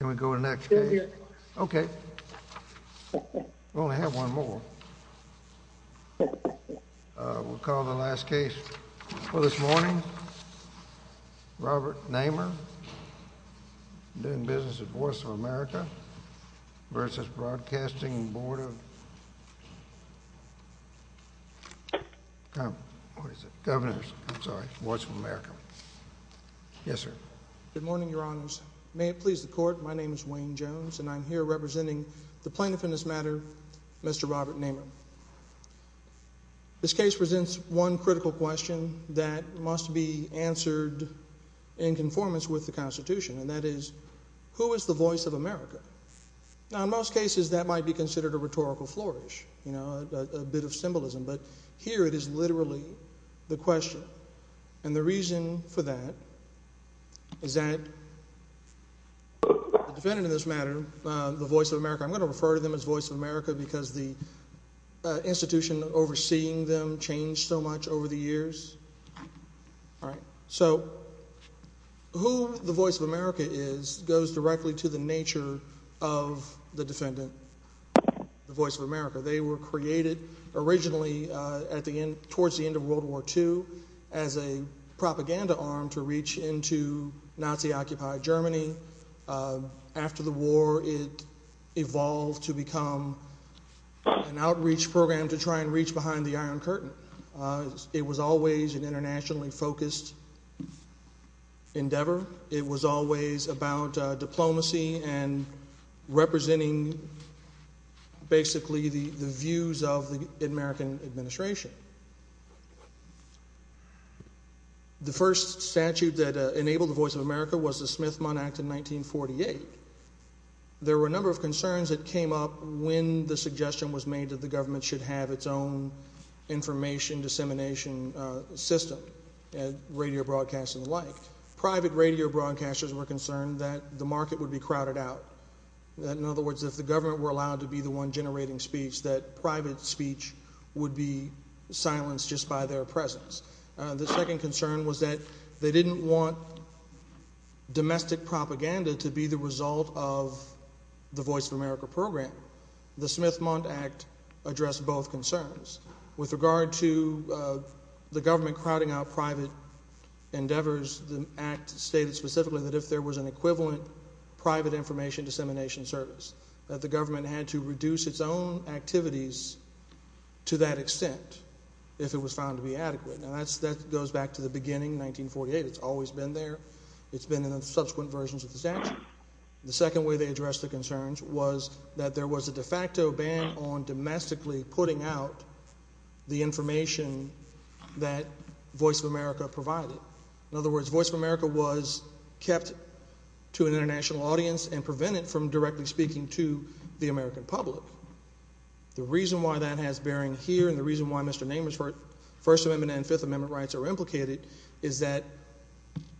nors, I'm sorry, Voice of America. Yes, sir. Good morning, Your Honors. May it please the Court. My name is Wayne Jones, and I'm here representing the plaintiff in this matter, Mr. Robert Namer. This case presents one critical question that must be answered in conformance with the Constitution, and that is, who is the voice of America? Now, in most cases, that might be considered a rhetorical flourish, you know, a bit of symbolism, but here it is literally the question. And the reason for that is that the defendant in this matter, the Voice of America, I'm going to refer to them as Voice of America because the institution overseeing them changed so much over the years. All right. So who the Voice of America is goes directly to the nature of the defendant, the Voice of America. They were created originally towards the end of World War II as a propaganda arm to reach into Nazi-occupied Germany. After the war, it evolved to become an outreach program to try and reach behind the Iron Curtain. It was always an internationally focused endeavor. It was always about diplomacy and representing, basically, the views of the American administration. The first statute that enabled the Voice of America was the Smith-Munn Act of 1948. There were a number of concerns that came up when the suggestion was made that the government should have its own information dissemination system, and radio broadcasting alike. Private radio broadcasters were concerned that the market would be crowded out. In other words, if the government were allowed to be the one generating speech, that private speech would be silenced just by their presence. The second concern was that they didn't want domestic propaganda to be the result of the Voice of America program. The Smith-Munn Act addressed both concerns. With regard to the government crowding out private endeavors, the Act stated specifically that if there was an equivalent private information dissemination service, that the government had to reduce its own activities to that extent if it was found to be adequate. Now, that goes back to the beginning, 1948. It's always been there. It's been in subsequent versions of the statute. The second way they addressed the concerns was that there was a de facto ban on domestically putting out the information that Voice of America was kept to an international audience and prevented from directly speaking to the American public. The reason why that has bearing here, and the reason why Mr. Namer's First Amendment and Fifth Amendment rights are implicated, is that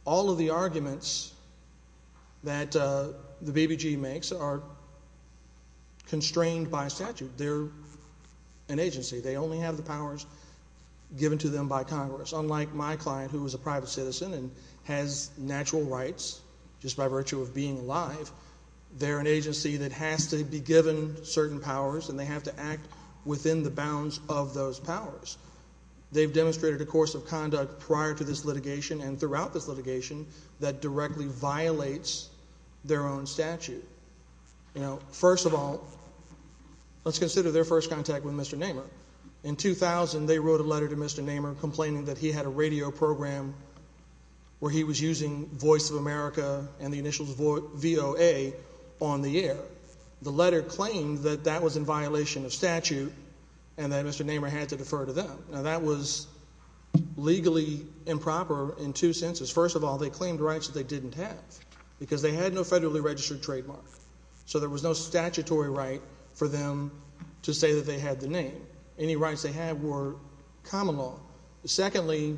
all of the arguments that the BBG makes are constrained by statute. They're an agency. They only have the powers given to them by Congress. Unlike my client, who is a private citizen and has natural rights just by virtue of being alive, they're an agency that has to be given certain powers, and they have to act within the bounds of those powers. They've demonstrated a course of conduct prior to this litigation and throughout this litigation that directly violates their own statute. First of all, let's consider their first contact with Mr. Namer. In 2000, they wrote a letter to Mr. Namer complaining that he had a radio program where he was using Voice of America and the initials VOA on the air. The letter claimed that that was in violation of statute and that Mr. Namer had to defer to them. Now, that was legally improper in two senses. First of all, they claimed rights that they didn't have because they had no statutory right for them to say that they had the name. Any rights they had were common law. Secondly,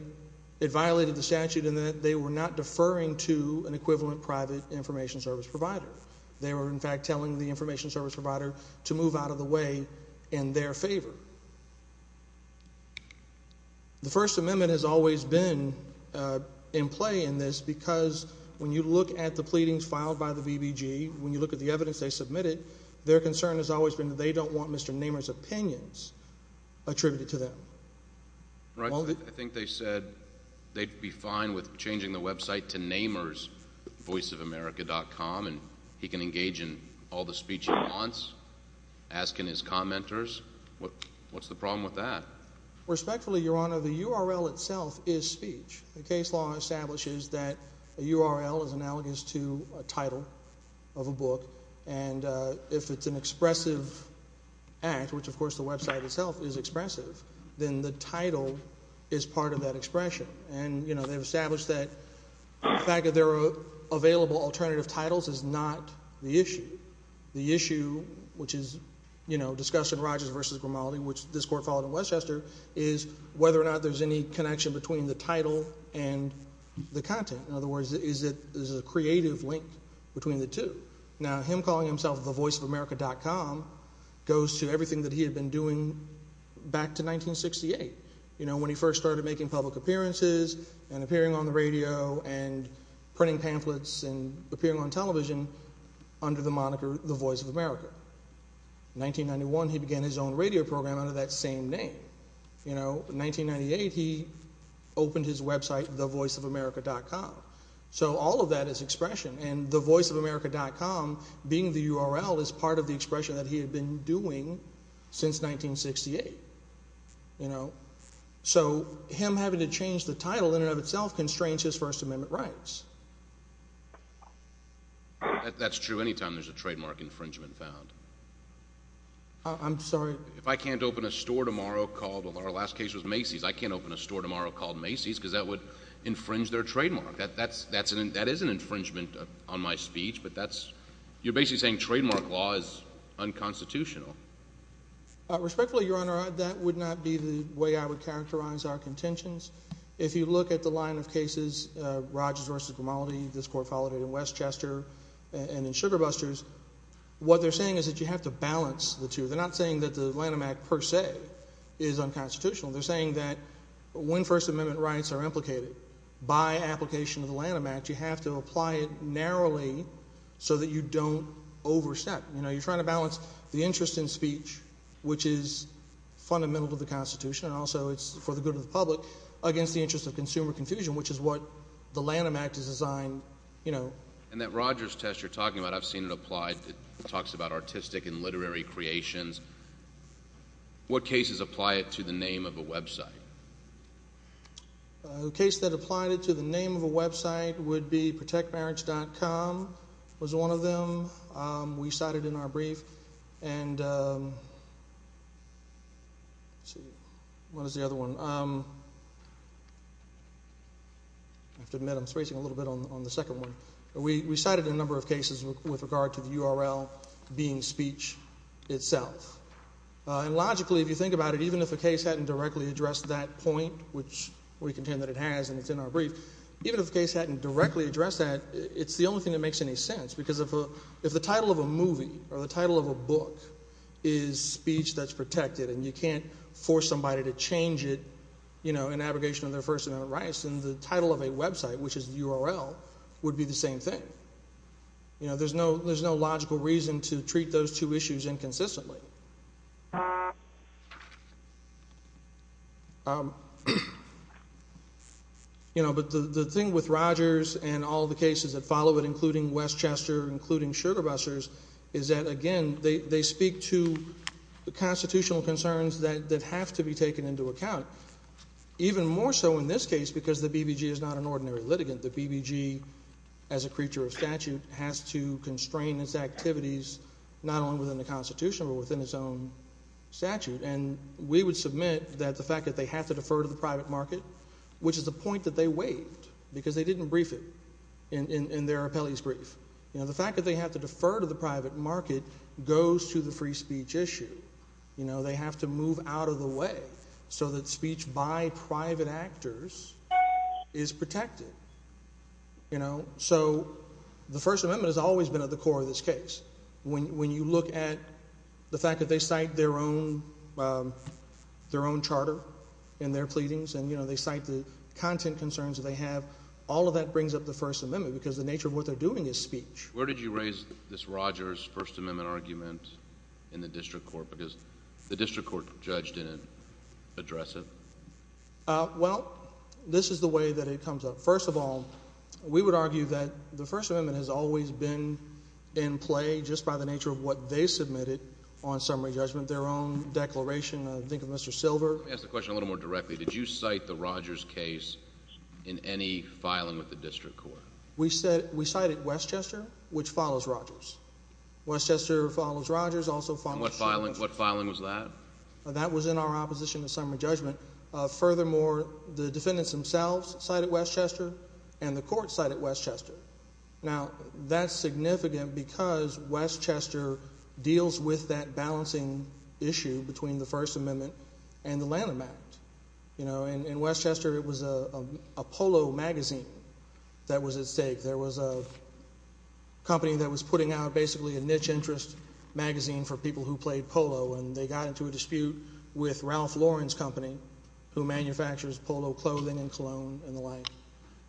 it violated the statute in that they were not deferring to an equivalent private information service provider. They were, in fact, telling the information service provider to move out of the way in their favor. The First Amendment has always been in play in this because when you look at the pleadings filed by the BBG, when you look at the evidence they submitted, their concern has always been that they don't want Mr. Namer's opinions attributed to them. I think they said they'd be fine with changing the website to namersvoiceofamerica.com and he can engage in all the speech he wants, asking his commenters. What's the problem with that? Respectfully, Your Honor, the URL itself is speech. The case law establishes that a URL is analogous to a title of a book and if it's an expressive act, which of course the website itself is expressive, then the title is part of that expression. They've established that the fact that there are available alternative titles is not the issue. The issue, which is discussed in Rogers v. Grimaldi, which this Court followed in Westchester, is whether or not there's any connection between the title and the content. In other words, is there a creative link between the two? Now him calling himself the voiceofamerica.com goes to everything that he had been doing back to 1968. You know, when he first started making public appearances and appearing on the radio and printing pamphlets and appearing on television under the moniker the Voice of America. In 1991, he began his own radio program under that same name. In 1998, he opened his website thevoiceofamerica.com. So all of that is expression and the voiceofamerica.com, being the URL, is part of the expression that he had been doing since 1968. So him having to change the title in and of itself constrains his First Amendment rights. That's true anytime there's a trademark infringement found. I'm sorry? If I can't open a store tomorrow called, our last case was Macy's, I can't open a store tomorrow called Macy's because that would infringe their trademark. That is an infringement on my speech, but you're basically saying trademark law is unconstitutional. Respectfully, Your Honor, that would not be the way I would characterize our contentions. If you look at the line of cases, Rogers v. Grimaldi, this Court followed it in Westchester and in Sugar Busters, what they're saying is that you have to apply it narrowly so that you don't overstep. You're trying to balance the interest in speech, which is fundamental to the Constitution, and also it's for the good of the public, against the interest of consumer confusion, which is what the Lanham Act is designed, you know. And that Rogers test you're talking about, I've seen it applied. It talks about what cases apply it to the name of a website. A case that applied it to the name of a website would be protectmarriage.com was one of them. We cited in our brief, and what is the other one? I have to admit, I'm spacing a little bit on the second one. We cited a number of cases with regard to the URL being speech itself. And logically, if you think about it, even if a case hadn't directly addressed that point, which we contend that it has, and it's in our brief, even if the case hadn't directly addressed that, it's the only thing that makes any sense. Because if the title of a movie or the title of a book is speech that's protected, and you can't force somebody to change it, you know, in abrogation of their First Amendment rights, then the title of a logical reason to treat those two issues inconsistently. You know, but the thing with Rogers and all the cases that follow it, including Westchester, including Sugar Busters, is that, again, they speak to the constitutional concerns that have to be taken into account. Even more so in this case, because the BBG is not an ordinary litigant. The BBG, as a creature of statute, has to constrain its activities, not only within the Constitution, but within its own statute. And we would submit that the fact that they have to defer to the private market, which is a point that they waived, because they didn't brief it in their appellee's brief. You know, the fact that they have to defer to the private market goes to the free speech issue. You know, they have to move out of the way so that speech by private actors is protected. You know, so the First Amendment has always been at the core of this case. When you look at the fact that they cite their own, their own charter in their pleadings, and you know, they cite the content concerns that they have, all of that brings up the First Amendment, because the nature of what they're doing is speech. Where did you raise this Rogers First Amendment argument in the district court? Because the judge didn't address it? Well, this is the way that it comes up. First of all, we would argue that the First Amendment has always been in play just by the nature of what they submitted on summary judgment, their own declaration. Think of Mr. Silver. Let me ask the question a little more directly. Did you cite the Rogers case in any filing with the district court? We cited Westchester, which What filing? What filing was that? That was in our opposition to summary judgment. Furthermore, the defendants themselves cited Westchester, and the court cited Westchester. Now, that's significant because Westchester deals with that balancing issue between the First Amendment and the Lanham Act. You know, in Westchester, it was a polo magazine that was at stake. There was a putting out basically a niche interest magazine for people who played polo, and they got into a dispute with Ralph Lauren's company, who manufactures polo clothing and cologne and the like,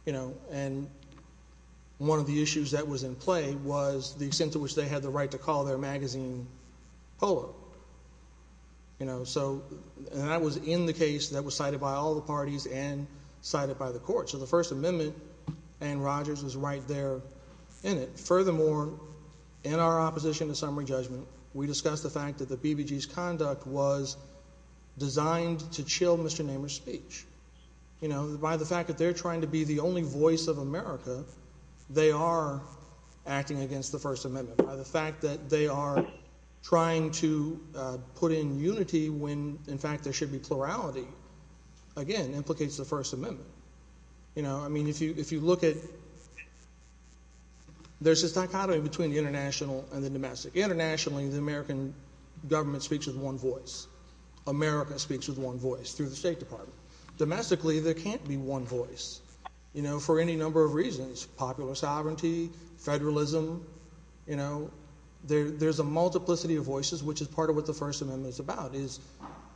you know, and one of the issues that was in play was the extent to which they had the right to call their magazine polo. You know, so that was in the case that was cited by all the parties and cited by the court. So the First Amendment and Rogers was right there in it. Furthermore, in our opposition to summary judgment, we discussed the fact that the BBG's conduct was designed to chill Mr. Namer's speech. You know, by the fact that they're trying to be the only voice of America, they are acting against the First Amendment. By the fact that they are trying to put in unity when, in fact, it implicates the First Amendment. You know, I mean, if you look at, there's this dichotomy between the international and the domestic. Internationally, the American government speaks with one voice. America speaks with one voice through the State Department. Domestically, there can't be one voice, you know, for any number of reasons. Popular sovereignty, federalism, you know, there's a multiplicity of voices, which is part of what the First Amendment is about, is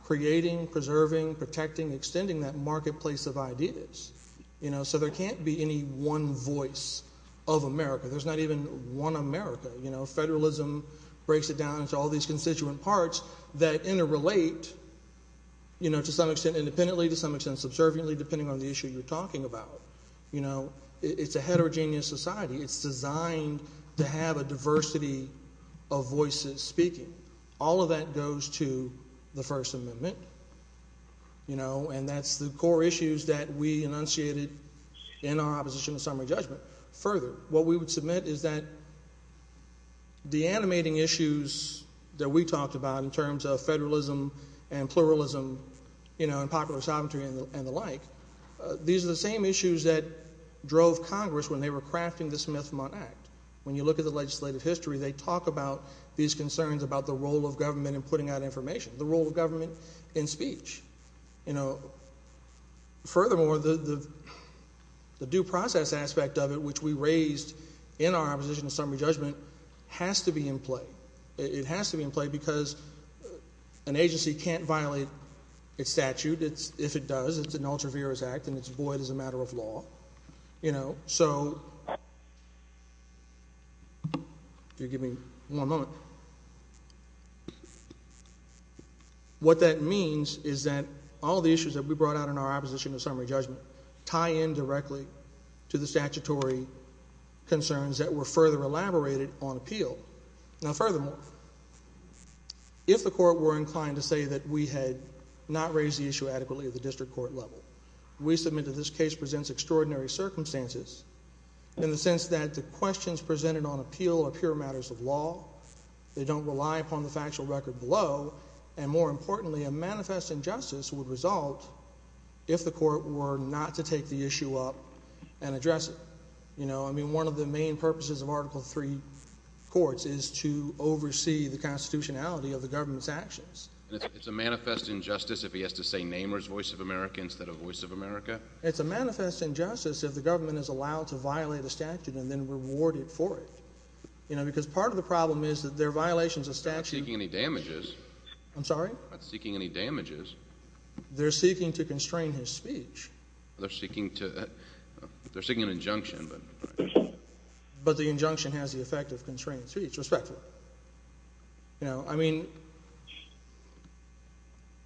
creating, preserving, protecting, extending that marketplace of ideas. You know, so there can't be any one voice of America. There's not even one America. You know, federalism breaks it down into all these constituent parts that interrelate, you know, to some extent independently, to some extent subserviently, depending on the issue you're talking about. You know, it's a heterogeneous society. It's designed to have a diversity of voices speaking. All of that goes to the First Amendment, you know, and that's the core issues that we enunciated in our opposition to summary judgment. Further, what we would submit is that the animating issues that we talked about in terms of federalism and pluralism, you know, and popular sovereignty and the like, these are the same issues that drove Congress when they were crafting the Smith-Mundt Act. When you look at the legislative history, they talk about these concerns about the role of government in putting out information, the role of government in speech. You know, furthermore, the due process aspect of it, which we raised in our opposition to summary judgment, has to be in play. It has to be in play because an agency can't violate its statute. If it does, it's an ultra-virus act and it's void as a What that means is that all the issues that we brought out in our opposition to summary judgment tie in directly to the statutory concerns that were further elaborated on appeal. Now, furthermore, if the court were inclined to say that we had not raised the issue adequately at the district court level, we submit that this case presents extraordinary circumstances in the sense that the questions presented on appeal are pure matters of law. They don't rely upon the factual record below, and more importantly, a manifest injustice would result if the court were not to take the issue up and address it. You know, I mean, one of the main purposes of Article III courts is to oversee the constitutionality of the government's actions. It's a manifest injustice if he has to say Nehmer's voice of America instead of voice of America? It's a manifest injustice if the government is allowed to violate a statute and then reward it for it. You know, because part of the problem is that there are violations of statute. They're not seeking any damages. I'm sorry? They're not seeking any damages. They're seeking to constrain his speech. They're seeking to, they're seeking an injunction, but. But the injunction has the effect of constraining speech. Respectful. You know, I mean,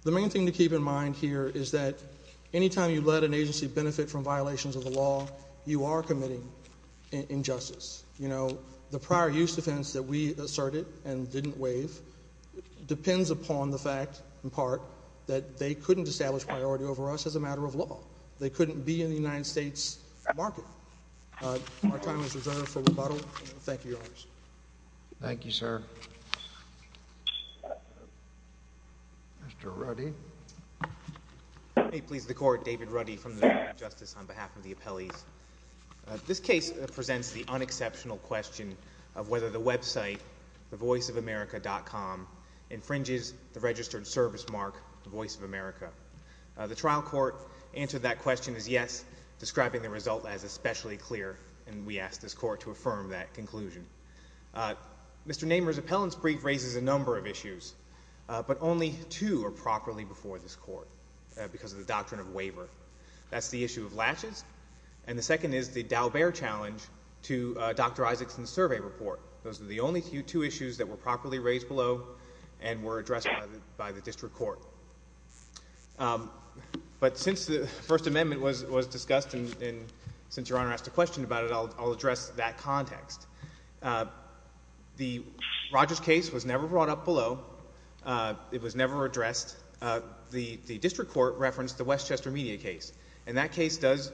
the main thing to keep in mind here is that anytime you let an agency benefit from violations of the law, you are committing injustice. You know, the prior use defense that we asserted and didn't waive depends upon the fact, in part, that they couldn't establish priority over us as a matter of law. They couldn't be in the United States market. Our time is reserved for rebuttal. Thank you, Your Honor. Thank you, sir. Mr. Ruddy. May it please the court, David Ruddy from the Department of Justice on behalf of the appellees. This case presents the unexceptional question of whether the website, thevoiceofamerica.com, infringes the registered service mark, the Voice of America. The trial court answered that question as yes, describing the result as especially clear. And we asked this court to affirm that conclusion. Mr. Namer's appellant's brief raises a number of issues, but only two are properly before this court because of the doctrine of waiver. That's the issue of latches. And the second is the Daubert challenge to Dr. Isaacson's survey report. Those are the only two issues that were properly raised below and were addressed by the district court. But since the First Amendment was discussed and since Your Honor asked a question about it, I'll address that context. The Rogers case was never brought up below. It was never addressed. The district court referenced the Westchester Media case, and that case does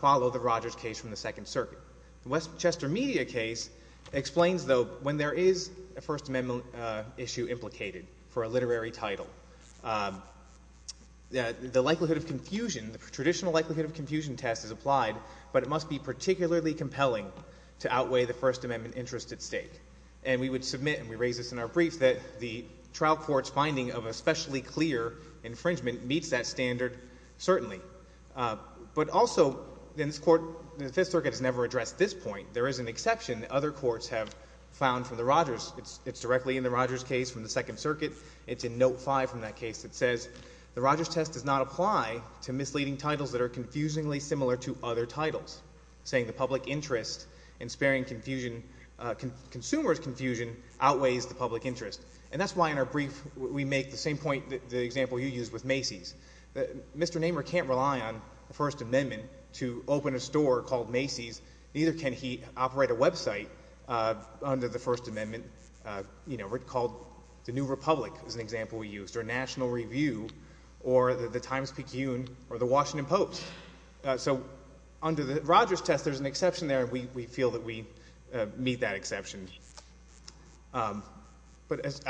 follow the Rogers case from the Second Circuit. The Westchester Media case explains, though, when there is a First Amendment issue implicated for a literary title, the likelihood of confusion, the traditional likelihood of confusion test is applied, but it must be particularly compelling to outweigh the First Amendment interest at stake. And we would submit, and we raise this in our brief, that the trial court's finding of especially clear infringement meets that standard, certainly. But also, in this court, the Fifth Circuit has never addressed this point. There is an exception that other courts have found for the Rogers. It's directly in the Rogers case from the Second Circuit. It's in Note 5 from that case that says, the Rogers test does not apply to misleading titles that are confusingly similar to other titles, saying the public interest in sparing confusion, consumers' confusion, outweighs the public interest. And that's why, in our brief, we make the same point, the example you used with Macy's. Mr. Nehmer can't rely on the First Amendment to open a store called Macy's, neither can he operate a website under the First Amendment, you know, called the New Republic, is an example we used, or National Review, or the Times-Picayune, or the Washington Post. So under the Rogers test, there's an exception there, and we feel that we meet that exception. But as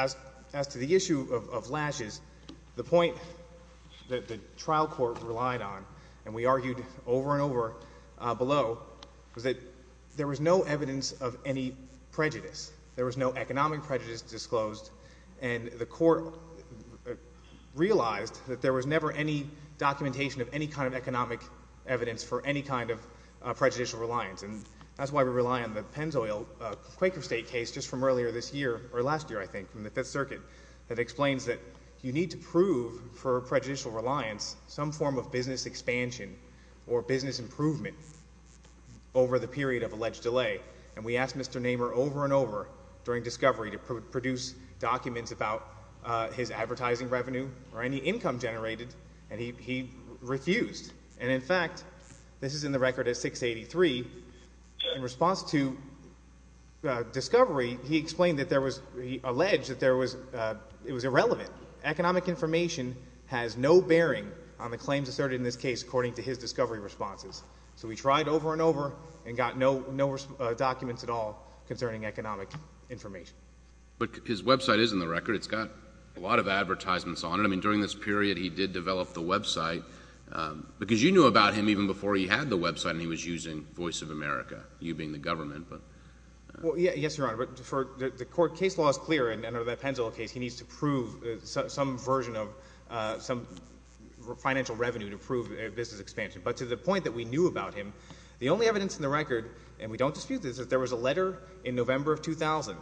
to the issue of lashes, the point that the trial court relied on, and we argued over and over below, was that there was no evidence of any prejudice. There was no economic prejudice disclosed, and the court realized that there was never any documentation of any kind of economic evidence for any kind of prejudicial reliance. And that's why we rely on the Pennzoil-Quaker State case just from earlier this year, or last year, I think, from the Fifth Circuit, that explains that you need to prove, for prejudicial reliance, some form of business expansion or business improvement over the period of alleged delay. And we asked Mr. Nehmer over and over during discovery to produce documents about his discovery, and he refused. And in fact, this is in the record at 683, in response to discovery, he explained that there was, he alleged that there was, it was irrelevant. Economic information has no bearing on the claims asserted in this case, according to his discovery responses. So we tried over and over and got no documents at all concerning economic information. But his website is in the record. It's got a lot of advertisements on it. I mean, during this period, he did develop the website, because you knew about him even before he had the website, and he was using Voice of America, you being the government. Well, yes, Your Honor. But for the court, case law is clear, and under that Pennzoil case, he needs to prove some version of some financial revenue to prove a business expansion. But to the point that we knew about him, the only evidence in the record, and we don't dispute this, is that there was a letter in November of 2000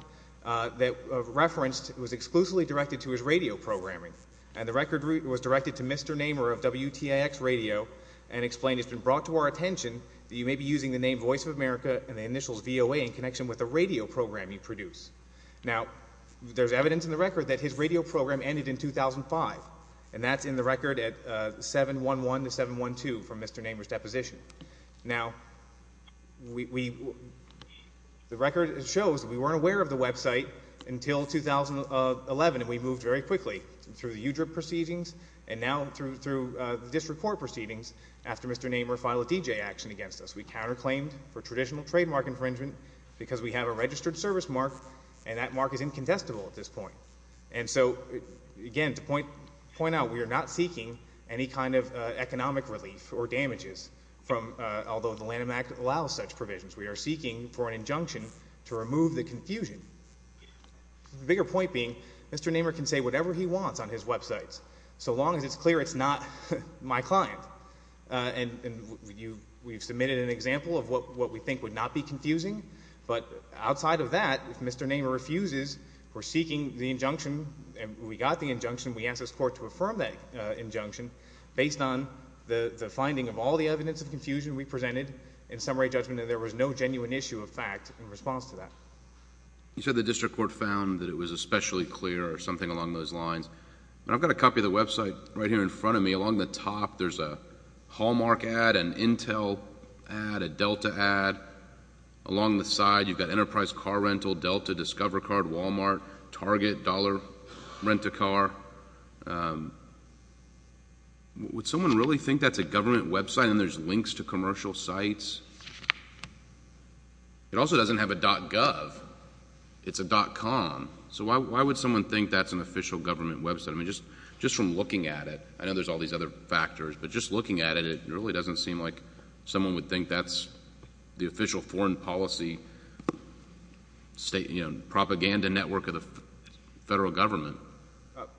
that referenced, it was exclusively directed to his radio programming, and the record was directed to Mr. Namer of WTIX Radio, and explained, it's been brought to our attention that you may be using the name Voice of America and the initials VOA in connection with the radio program you produce. Now, there's evidence in the record that his radio program ended in 2005, and that's in the record at 711 to 712 from Mr. Namer's deposition. Now, we, the record shows that we weren't aware of the website until 2011, and we moved very quickly through the UDRIP proceedings, and now through the district court proceedings, after Mr. Namer filed a D.J. action against us. We counterclaimed for traditional trademark infringement because we have a registered service mark, and that mark is incontestable at this point. And so, again, to point out, we are not seeking any kind of economic relief or damages from, although the Lanham Act allows such provisions, we are seeking for an injunction to remove the confusion. The bigger point being, Mr. Namer can say whatever he wants on his websites, so long as it's clear it's not my client. And we've submitted an example of what we think would not be confusing, but outside of that, if Mr. Namer refuses, we're seeking the injunction, and we got the injunction. We asked this court to affirm that injunction based on the finding of all the evidence of confusion we presented in summary judgment, and there was no genuine issue of fact in response to that. You said the district court found that it was especially clear or something along those lines. I've got a copy of the website right here in front of me. Along the top, there's a Hallmark ad, an Intel ad, a Delta ad. Along the side, you've got Enterprise Car Rental, Delta, Discover Card, Walmart, Target, Dollar Rent-A-Car. Would someone really think that's a government website and there's links to commercial sites? It also doesn't have a .gov. It's a .com. So why would someone think that's an official government website? I mean, just from looking at it, I know there's all these other factors, but just looking at it, it really doesn't seem like someone would think that's the official foreign policy state, you know, propaganda network of the federal government.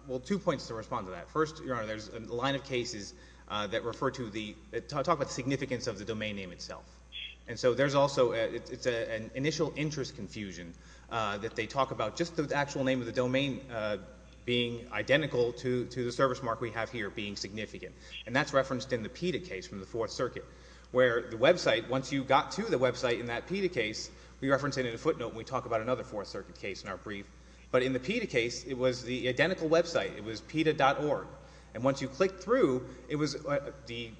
Well, two points to respond to that. First, Your Honor, there's a line of cases that refer to the talk about the significance of the domain name itself. And so there's also an initial interest confusion that they talk about just the actual name of the domain being identical to the service mark we have here being significant. And that's referenced in the PETA case from the Fourth Circuit, where the website, once you got to the website in that PETA case, we reference it in a footnote and we talk about another Fourth Circuit case in our brief. But in the PETA case, it was the identical website. It was PETA.org. And once you clicked through, it was the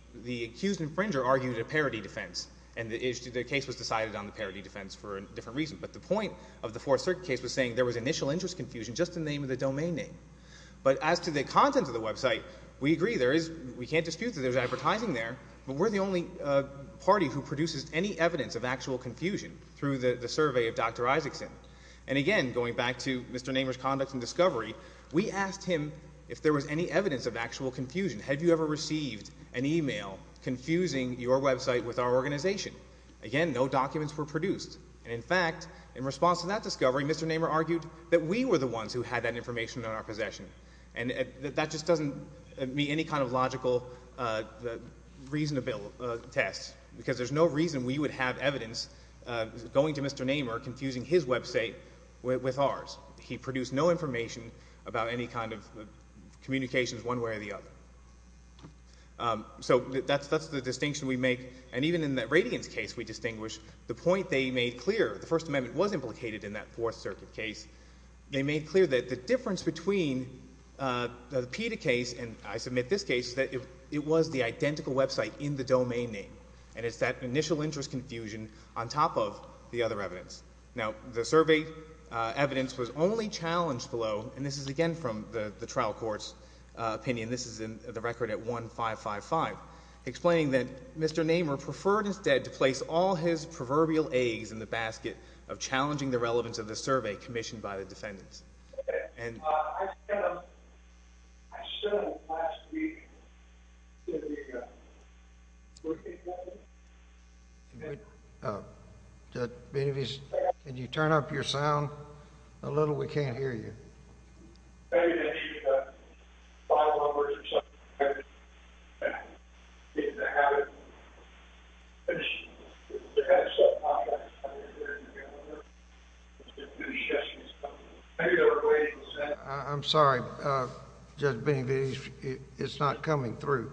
accused infringer argued a parody defense. And the case was decided on the parody defense for a different reason. But the point of the Fourth Circuit case was saying there was initial interest confusion just in the name of the domain name. But as to the content of the website, we agree there is, we can't dispute that there's advertising there, but we're the only party who produces any evidence of actual confusion through the survey of Dr. Isaacson. And again, going back to Mr. Namer's conduct and discovery, we asked him if there was any evidence of actual confusion. Have you ever received an email confusing your website with our organization? Again, no documents were produced. And in fact, in response to that discovery, Mr. Namer argued that we were the ones who had that information in our possession. And that just doesn't meet any kind of logical, reasonable test, because there's no reason we would have anything to do with ours. He produced no information about any kind of communications one way or the other. So that's the distinction we make. And even in that Radiance case we distinguish, the point they made clear, the First Amendment was implicated in that Fourth Circuit case, they made clear that the difference between the PETA case and I submit this case, that it was the identical website in the domain name. And it's that initial interest confusion on top of the other evidence. Now, the survey evidence was only challenged below, and this is again from the trial court's opinion, this is in the record at 1555, explaining that Mr. Namer preferred instead to place all his proverbial eggs in the basket of challenging the relevance of the survey commissioned by the defendants. I sent them last week to the, what's the name of that place? Can you turn up your sound a little? We can't hear you. I'm sorry. It's not coming through.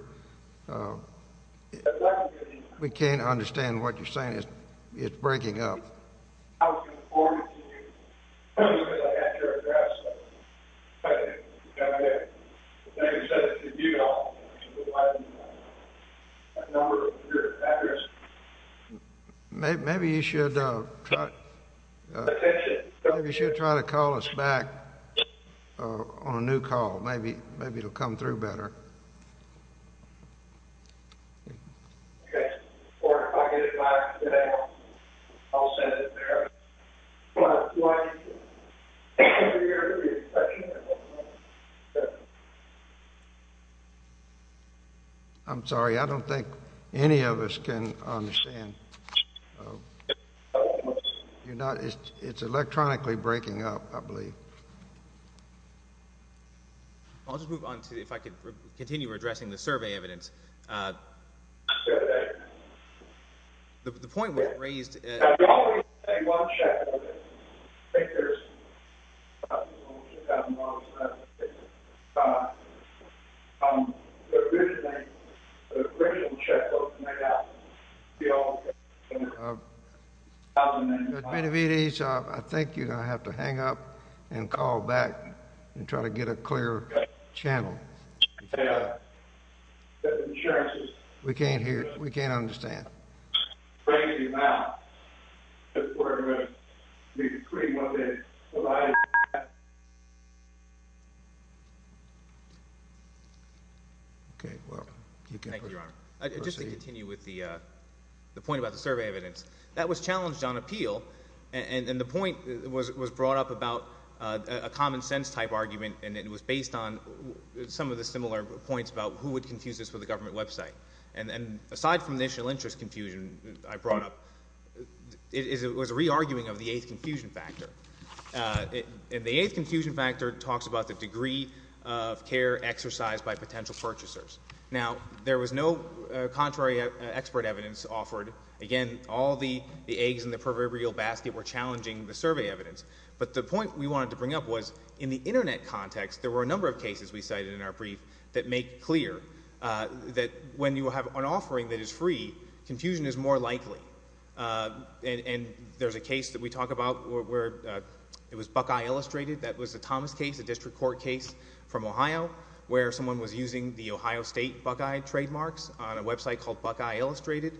We can't understand what you're saying. It's breaking up. Maybe you should try to call us back on a new call. Maybe it'll come through better. I'm sorry. I don't think any of us can understand. It's electronically breaking up, I believe. I'll just move on to, if I could continue addressing the survey evidence. The point was raised. I think there's a couple more. The original checkbook made out. I think you're going to have to hang up and call back and try to get a clear channel. We can't hear you. We can't understand. Thank you, Your Honor. Just to continue with the point about the survey evidence. That was challenged on appeal, and the point was brought up about a common sense type argument, and it was based on some of the similar points about who would confuse this with a government website. And aside from initial interest confusion I brought up, it was a re-arguing of the eighth confusion factor. And the eighth confusion factor talks about the degree of care exercised by potential purchasers. Now, there was no contrary expert evidence offered. Again, all the eggs in the proverbial basket were challenging the survey evidence. But the point we wanted to bring up was in the Internet context, there were a number of cases we cited in our brief that make clear that when you have an offering that is free, confusion is more likely. And there's a case that we talk about where it was Buckeye Illustrated. That was a Thomas case, a district court case from Ohio, where someone was using the Ohio State Buckeye trademarks on a website called Buckeye Illustrated.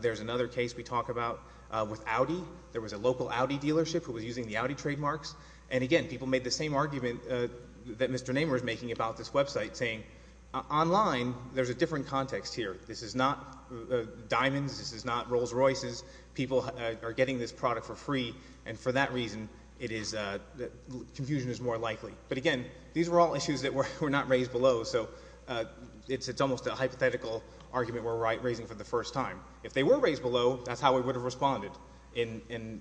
There's another case we talk about with Audi. There was a local Audi dealership who was using the Audi trademarks. And again, people made the same argument that Mr. Nehmer is making about this website, saying online there's a different context here. This is not Diamonds. This is not Rolls Royces. People are getting this product for free, and for that reason confusion is more likely. But again, these were all issues that were not raised below, so it's almost a hypothetical argument we're raising for the first time. If they were raised below, that's how we would have responded. In,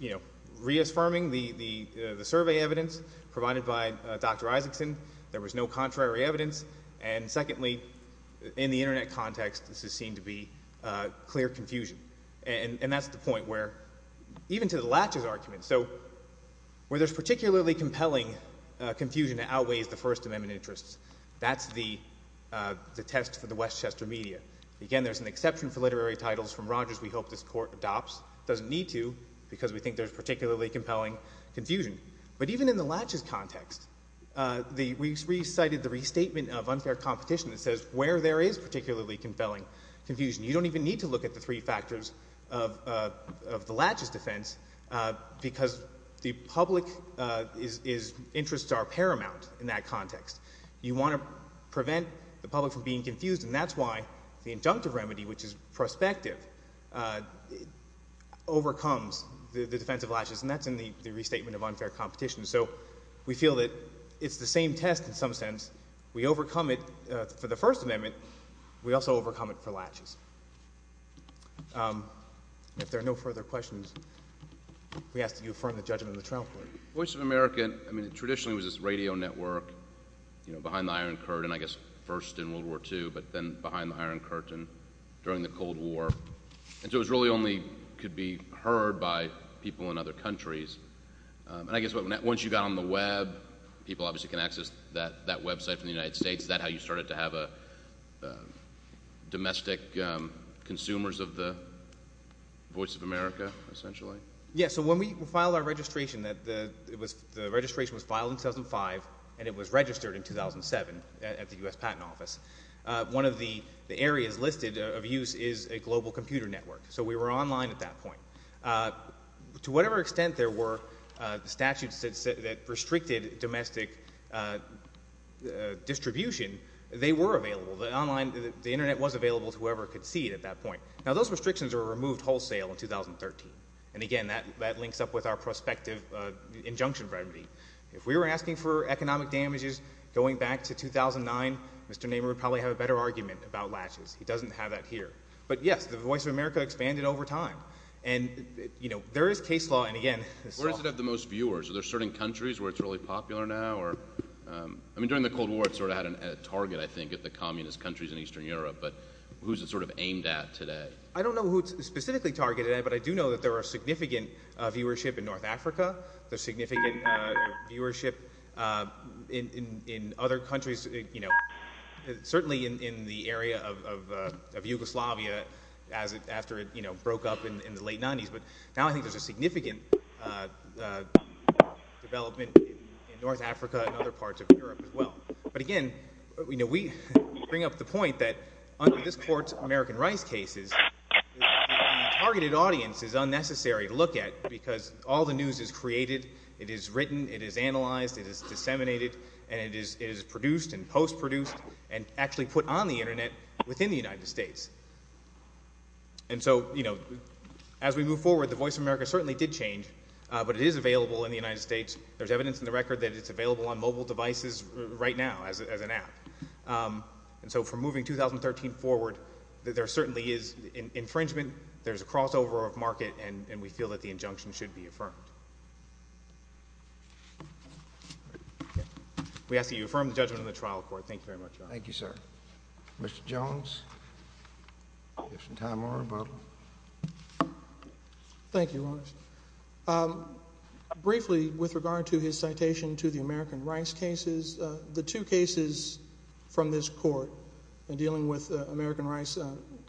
you know, reaffirming the survey evidence provided by Dr. Isaacson, there was no contrary evidence. And secondly, in the Internet context, this has seemed to be clear confusion. And that's the point where, even to the latches argument, so where there's particularly compelling confusion that outweighs the First Amendment interests, that's the test for the Westchester media. Again, there's an exception for literary titles from Rogers we hope this Court adopts. It doesn't need to because we think there's particularly compelling confusion. But even in the latches context, we cited the restatement of unfair competition that says where there is particularly compelling confusion. You don't even need to look at the three factors of the latches defense because the public interests are paramount in that context. You want to prevent the public from being confused, and that's why the injunctive remedy, which is prospective, overcomes the defense of latches, and that's in the restatement of unfair competition. So we feel that it's the same test in some sense. We overcome it for the First Amendment. We also overcome it for latches. If there are no further questions, we ask that you affirm the judgment of the trial court. Voice of America, I mean, traditionally was this radio network, you know, behind the Iron Curtain, I guess first in World War II, but then behind the Iron Curtain during the Cold War. And so it really only could be heard by people in other countries. And I guess once you got on the web, people obviously can access that website from the United States. Is that how you started to have domestic consumers of the Voice of America essentially? Yeah, so when we filed our registration, the registration was filed in 2005, and it was registered in 2007 at the U.S. Patent Office. One of the areas listed of use is a global computer network. So we were online at that point. To whatever extent there were statutes that restricted domestic distribution, they were available. The internet was available to whoever could see it at that point. Now, those restrictions were removed wholesale in 2013. And, again, that links up with our prospective injunction remedy. If we were asking for economic damages going back to 2009, Mr. Nehmer would probably have a better argument about latches. He doesn't have that here. But, yes, the Voice of America expanded over time. And, you know, there is case law, and, again— Where is it at the most viewers? Are there certain countries where it's really popular now? I mean, during the Cold War, it sort of had a target, I think, at the communist countries in Eastern Europe. But who is it sort of aimed at today? I don't know who it's specifically targeted at, but I do know that there are significant viewership in North Africa. There's significant viewership in other countries, you know, certainly in the area of Yugoslavia after it broke up in the late 1990s. But now I think there's a significant development in North Africa and other parts of Europe as well. But, again, you know, we bring up the point that under this Court's American Rice cases, the targeted audience is unnecessary to look at because all the news is created, it is written, it is analyzed, it is disseminated, and it is produced and post-produced and actually put on the Internet within the United States. And so, you know, as we move forward, the Voice of America certainly did change, but it is available in the United States. There's evidence in the record that it's available on mobile devices right now as an app. And so from moving 2013 forward, there certainly is infringement, there's a crossover of market, and we feel that the injunction should be affirmed. We ask that you affirm the judgment of the trial court. Thank you very much, Your Honor. Thank you, sir. Mr. Jones, if you have some time or a vote. Thank you, Your Honor. Briefly, with regard to his citation to the American Rice cases, the two cases from this court dealing with American Rice,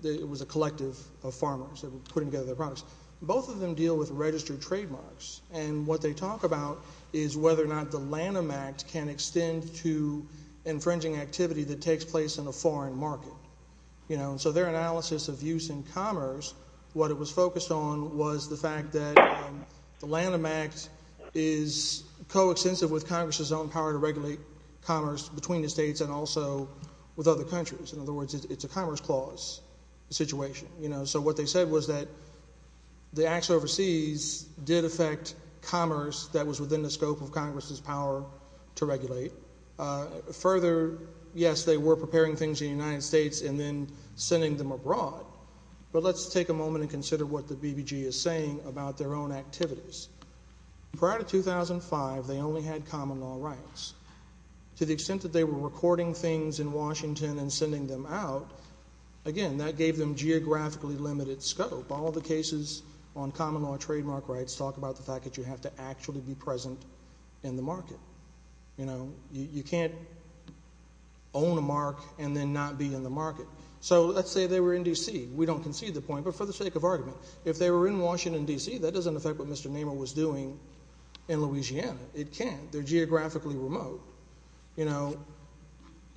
it was a collective of farmers that were putting together their products. Both of them deal with registered trademarks, and what they talk about is whether or not the Lanham Act can extend to infringing activity that takes place in a foreign market. You know, and so their analysis of use in commerce, what it was focused on was the fact that the Lanham Act is coextensive with Congress's own power to regulate commerce between the states and also with other countries. In other words, it's a commerce clause situation. You know, so what they said was that the acts overseas did affect commerce that was within the scope of Congress's power to regulate. Further, yes, they were preparing things in the United States and then sending them abroad. But let's take a moment and consider what the BBG is saying about their own activities. Prior to 2005, they only had common law rights. To the extent that they were recording things in Washington and sending them out, again, that gave them geographically limited scope. All the cases on common law trademark rights talk about the fact that you have to actually be present in the market. You know, you can't own a mark and then not be in the market. So let's say they were in D.C. We don't concede the point, but for the sake of argument, if they were in Washington, D.C., that doesn't affect what Mr. Nehmer was doing in Louisiana. It can't. They're geographically remote. You know,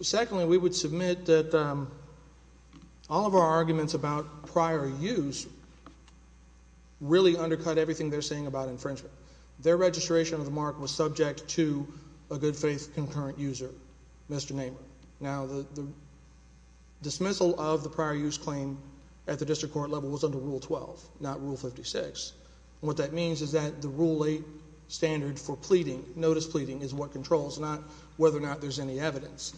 secondly, we would submit that all of our arguments about prior use really undercut everything they're saying about infringement. Their registration of the mark was subject to a good faith concurrent user, Mr. Nehmer. Now, the dismissal of the prior use claim at the district court level was under Rule 12, not Rule 56. What that means is that the Rule 8 standard for pleading, notice pleading, is what controls, not whether or not there's any evidence.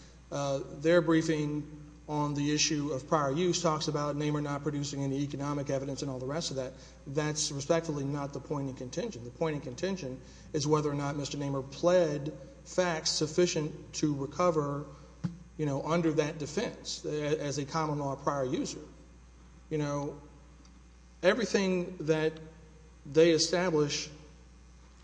Their briefing on the issue of prior use talks about Nehmer not producing any economic evidence and all the rest of that. That's respectfully not the point in contention. The point in contention is whether or not Mr. Nehmer pled facts sufficient to recover, you know, under that defense as a common law prior user. You know, everything that they establish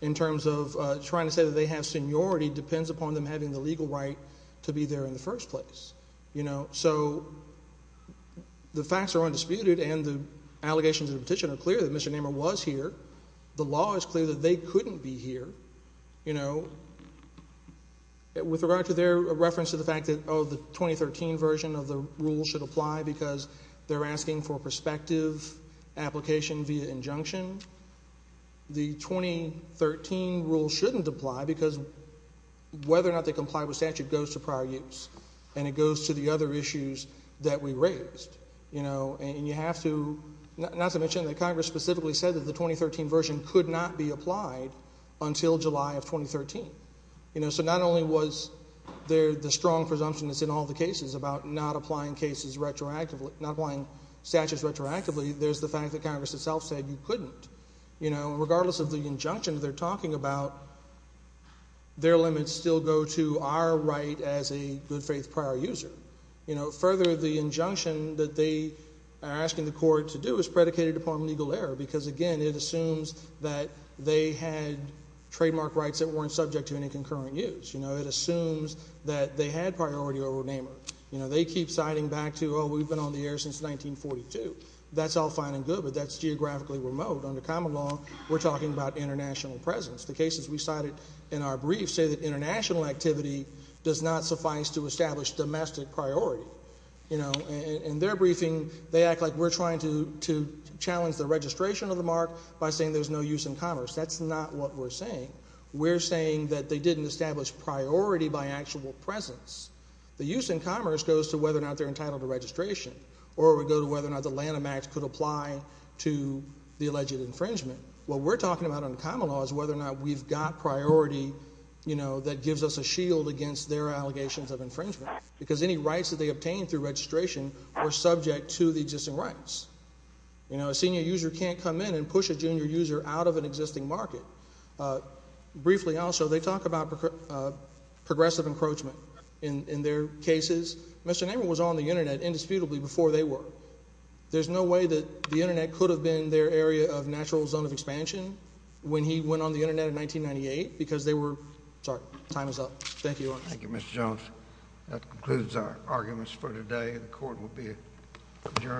in terms of trying to say that they have seniority depends upon them having the legal right to be there in the first place. You know, so the facts are undisputed and the allegations of petition are clear that Mr. Nehmer was here. The law is clear that they couldn't be here, you know. With regard to their reference to the fact that, oh, the 2013 version of the rule should apply because they're asking for prospective application via injunction, the 2013 rule shouldn't apply because whether or not they comply with statute goes to prior use and it goes to the other issues that we raised, you know. And you have to, not to mention that Congress specifically said that the 2013 version could not be applied until July of 2013. You know, so not only was there the strong presumption that's in all the cases about not applying cases retroactively, not applying statutes retroactively, there's the fact that Congress itself said you couldn't. You know, regardless of the injunction that they're talking about, their limits still go to our right as a good faith prior user. You know, further, the injunction that they are asking the court to do is predicated upon legal error because, again, it assumes that they had trademark rights that weren't subject to any concurrent use. You know, it assumes that they had priority over Nehmer. You know, they keep citing back to, oh, we've been on the air since 1942. That's all fine and good, but that's geographically remote. Under common law, we're talking about international presence. The cases we cited in our brief say that international activity does not suffice to establish domestic priority. You know, in their briefing, they act like we're trying to challenge the registration of the mark by saying there's no use in commerce. That's not what we're saying. We're saying that they didn't establish priority by actual presence. The use in commerce goes to whether or not they're entitled to registration or it would go to whether or not the Lanham Act could apply to the alleged infringement. What we're talking about under common law is whether or not we've got priority, you know, that gives us a shield against their allegations of infringement because any rights that they obtain through registration are subject to the existing rights. You know, a senior user can't come in and push a junior user out of an existing market. Briefly also, they talk about progressive encroachment in their cases. Mr. Nehmer was on the Internet indisputably before they were. There's no way that the Internet could have been their area of natural zone of expansion when he went on the Internet in 1998 because they were, sorry, time is up. Thank you. Thank you, Mr. Jones. That concludes our arguments for today. The court will be adjourned.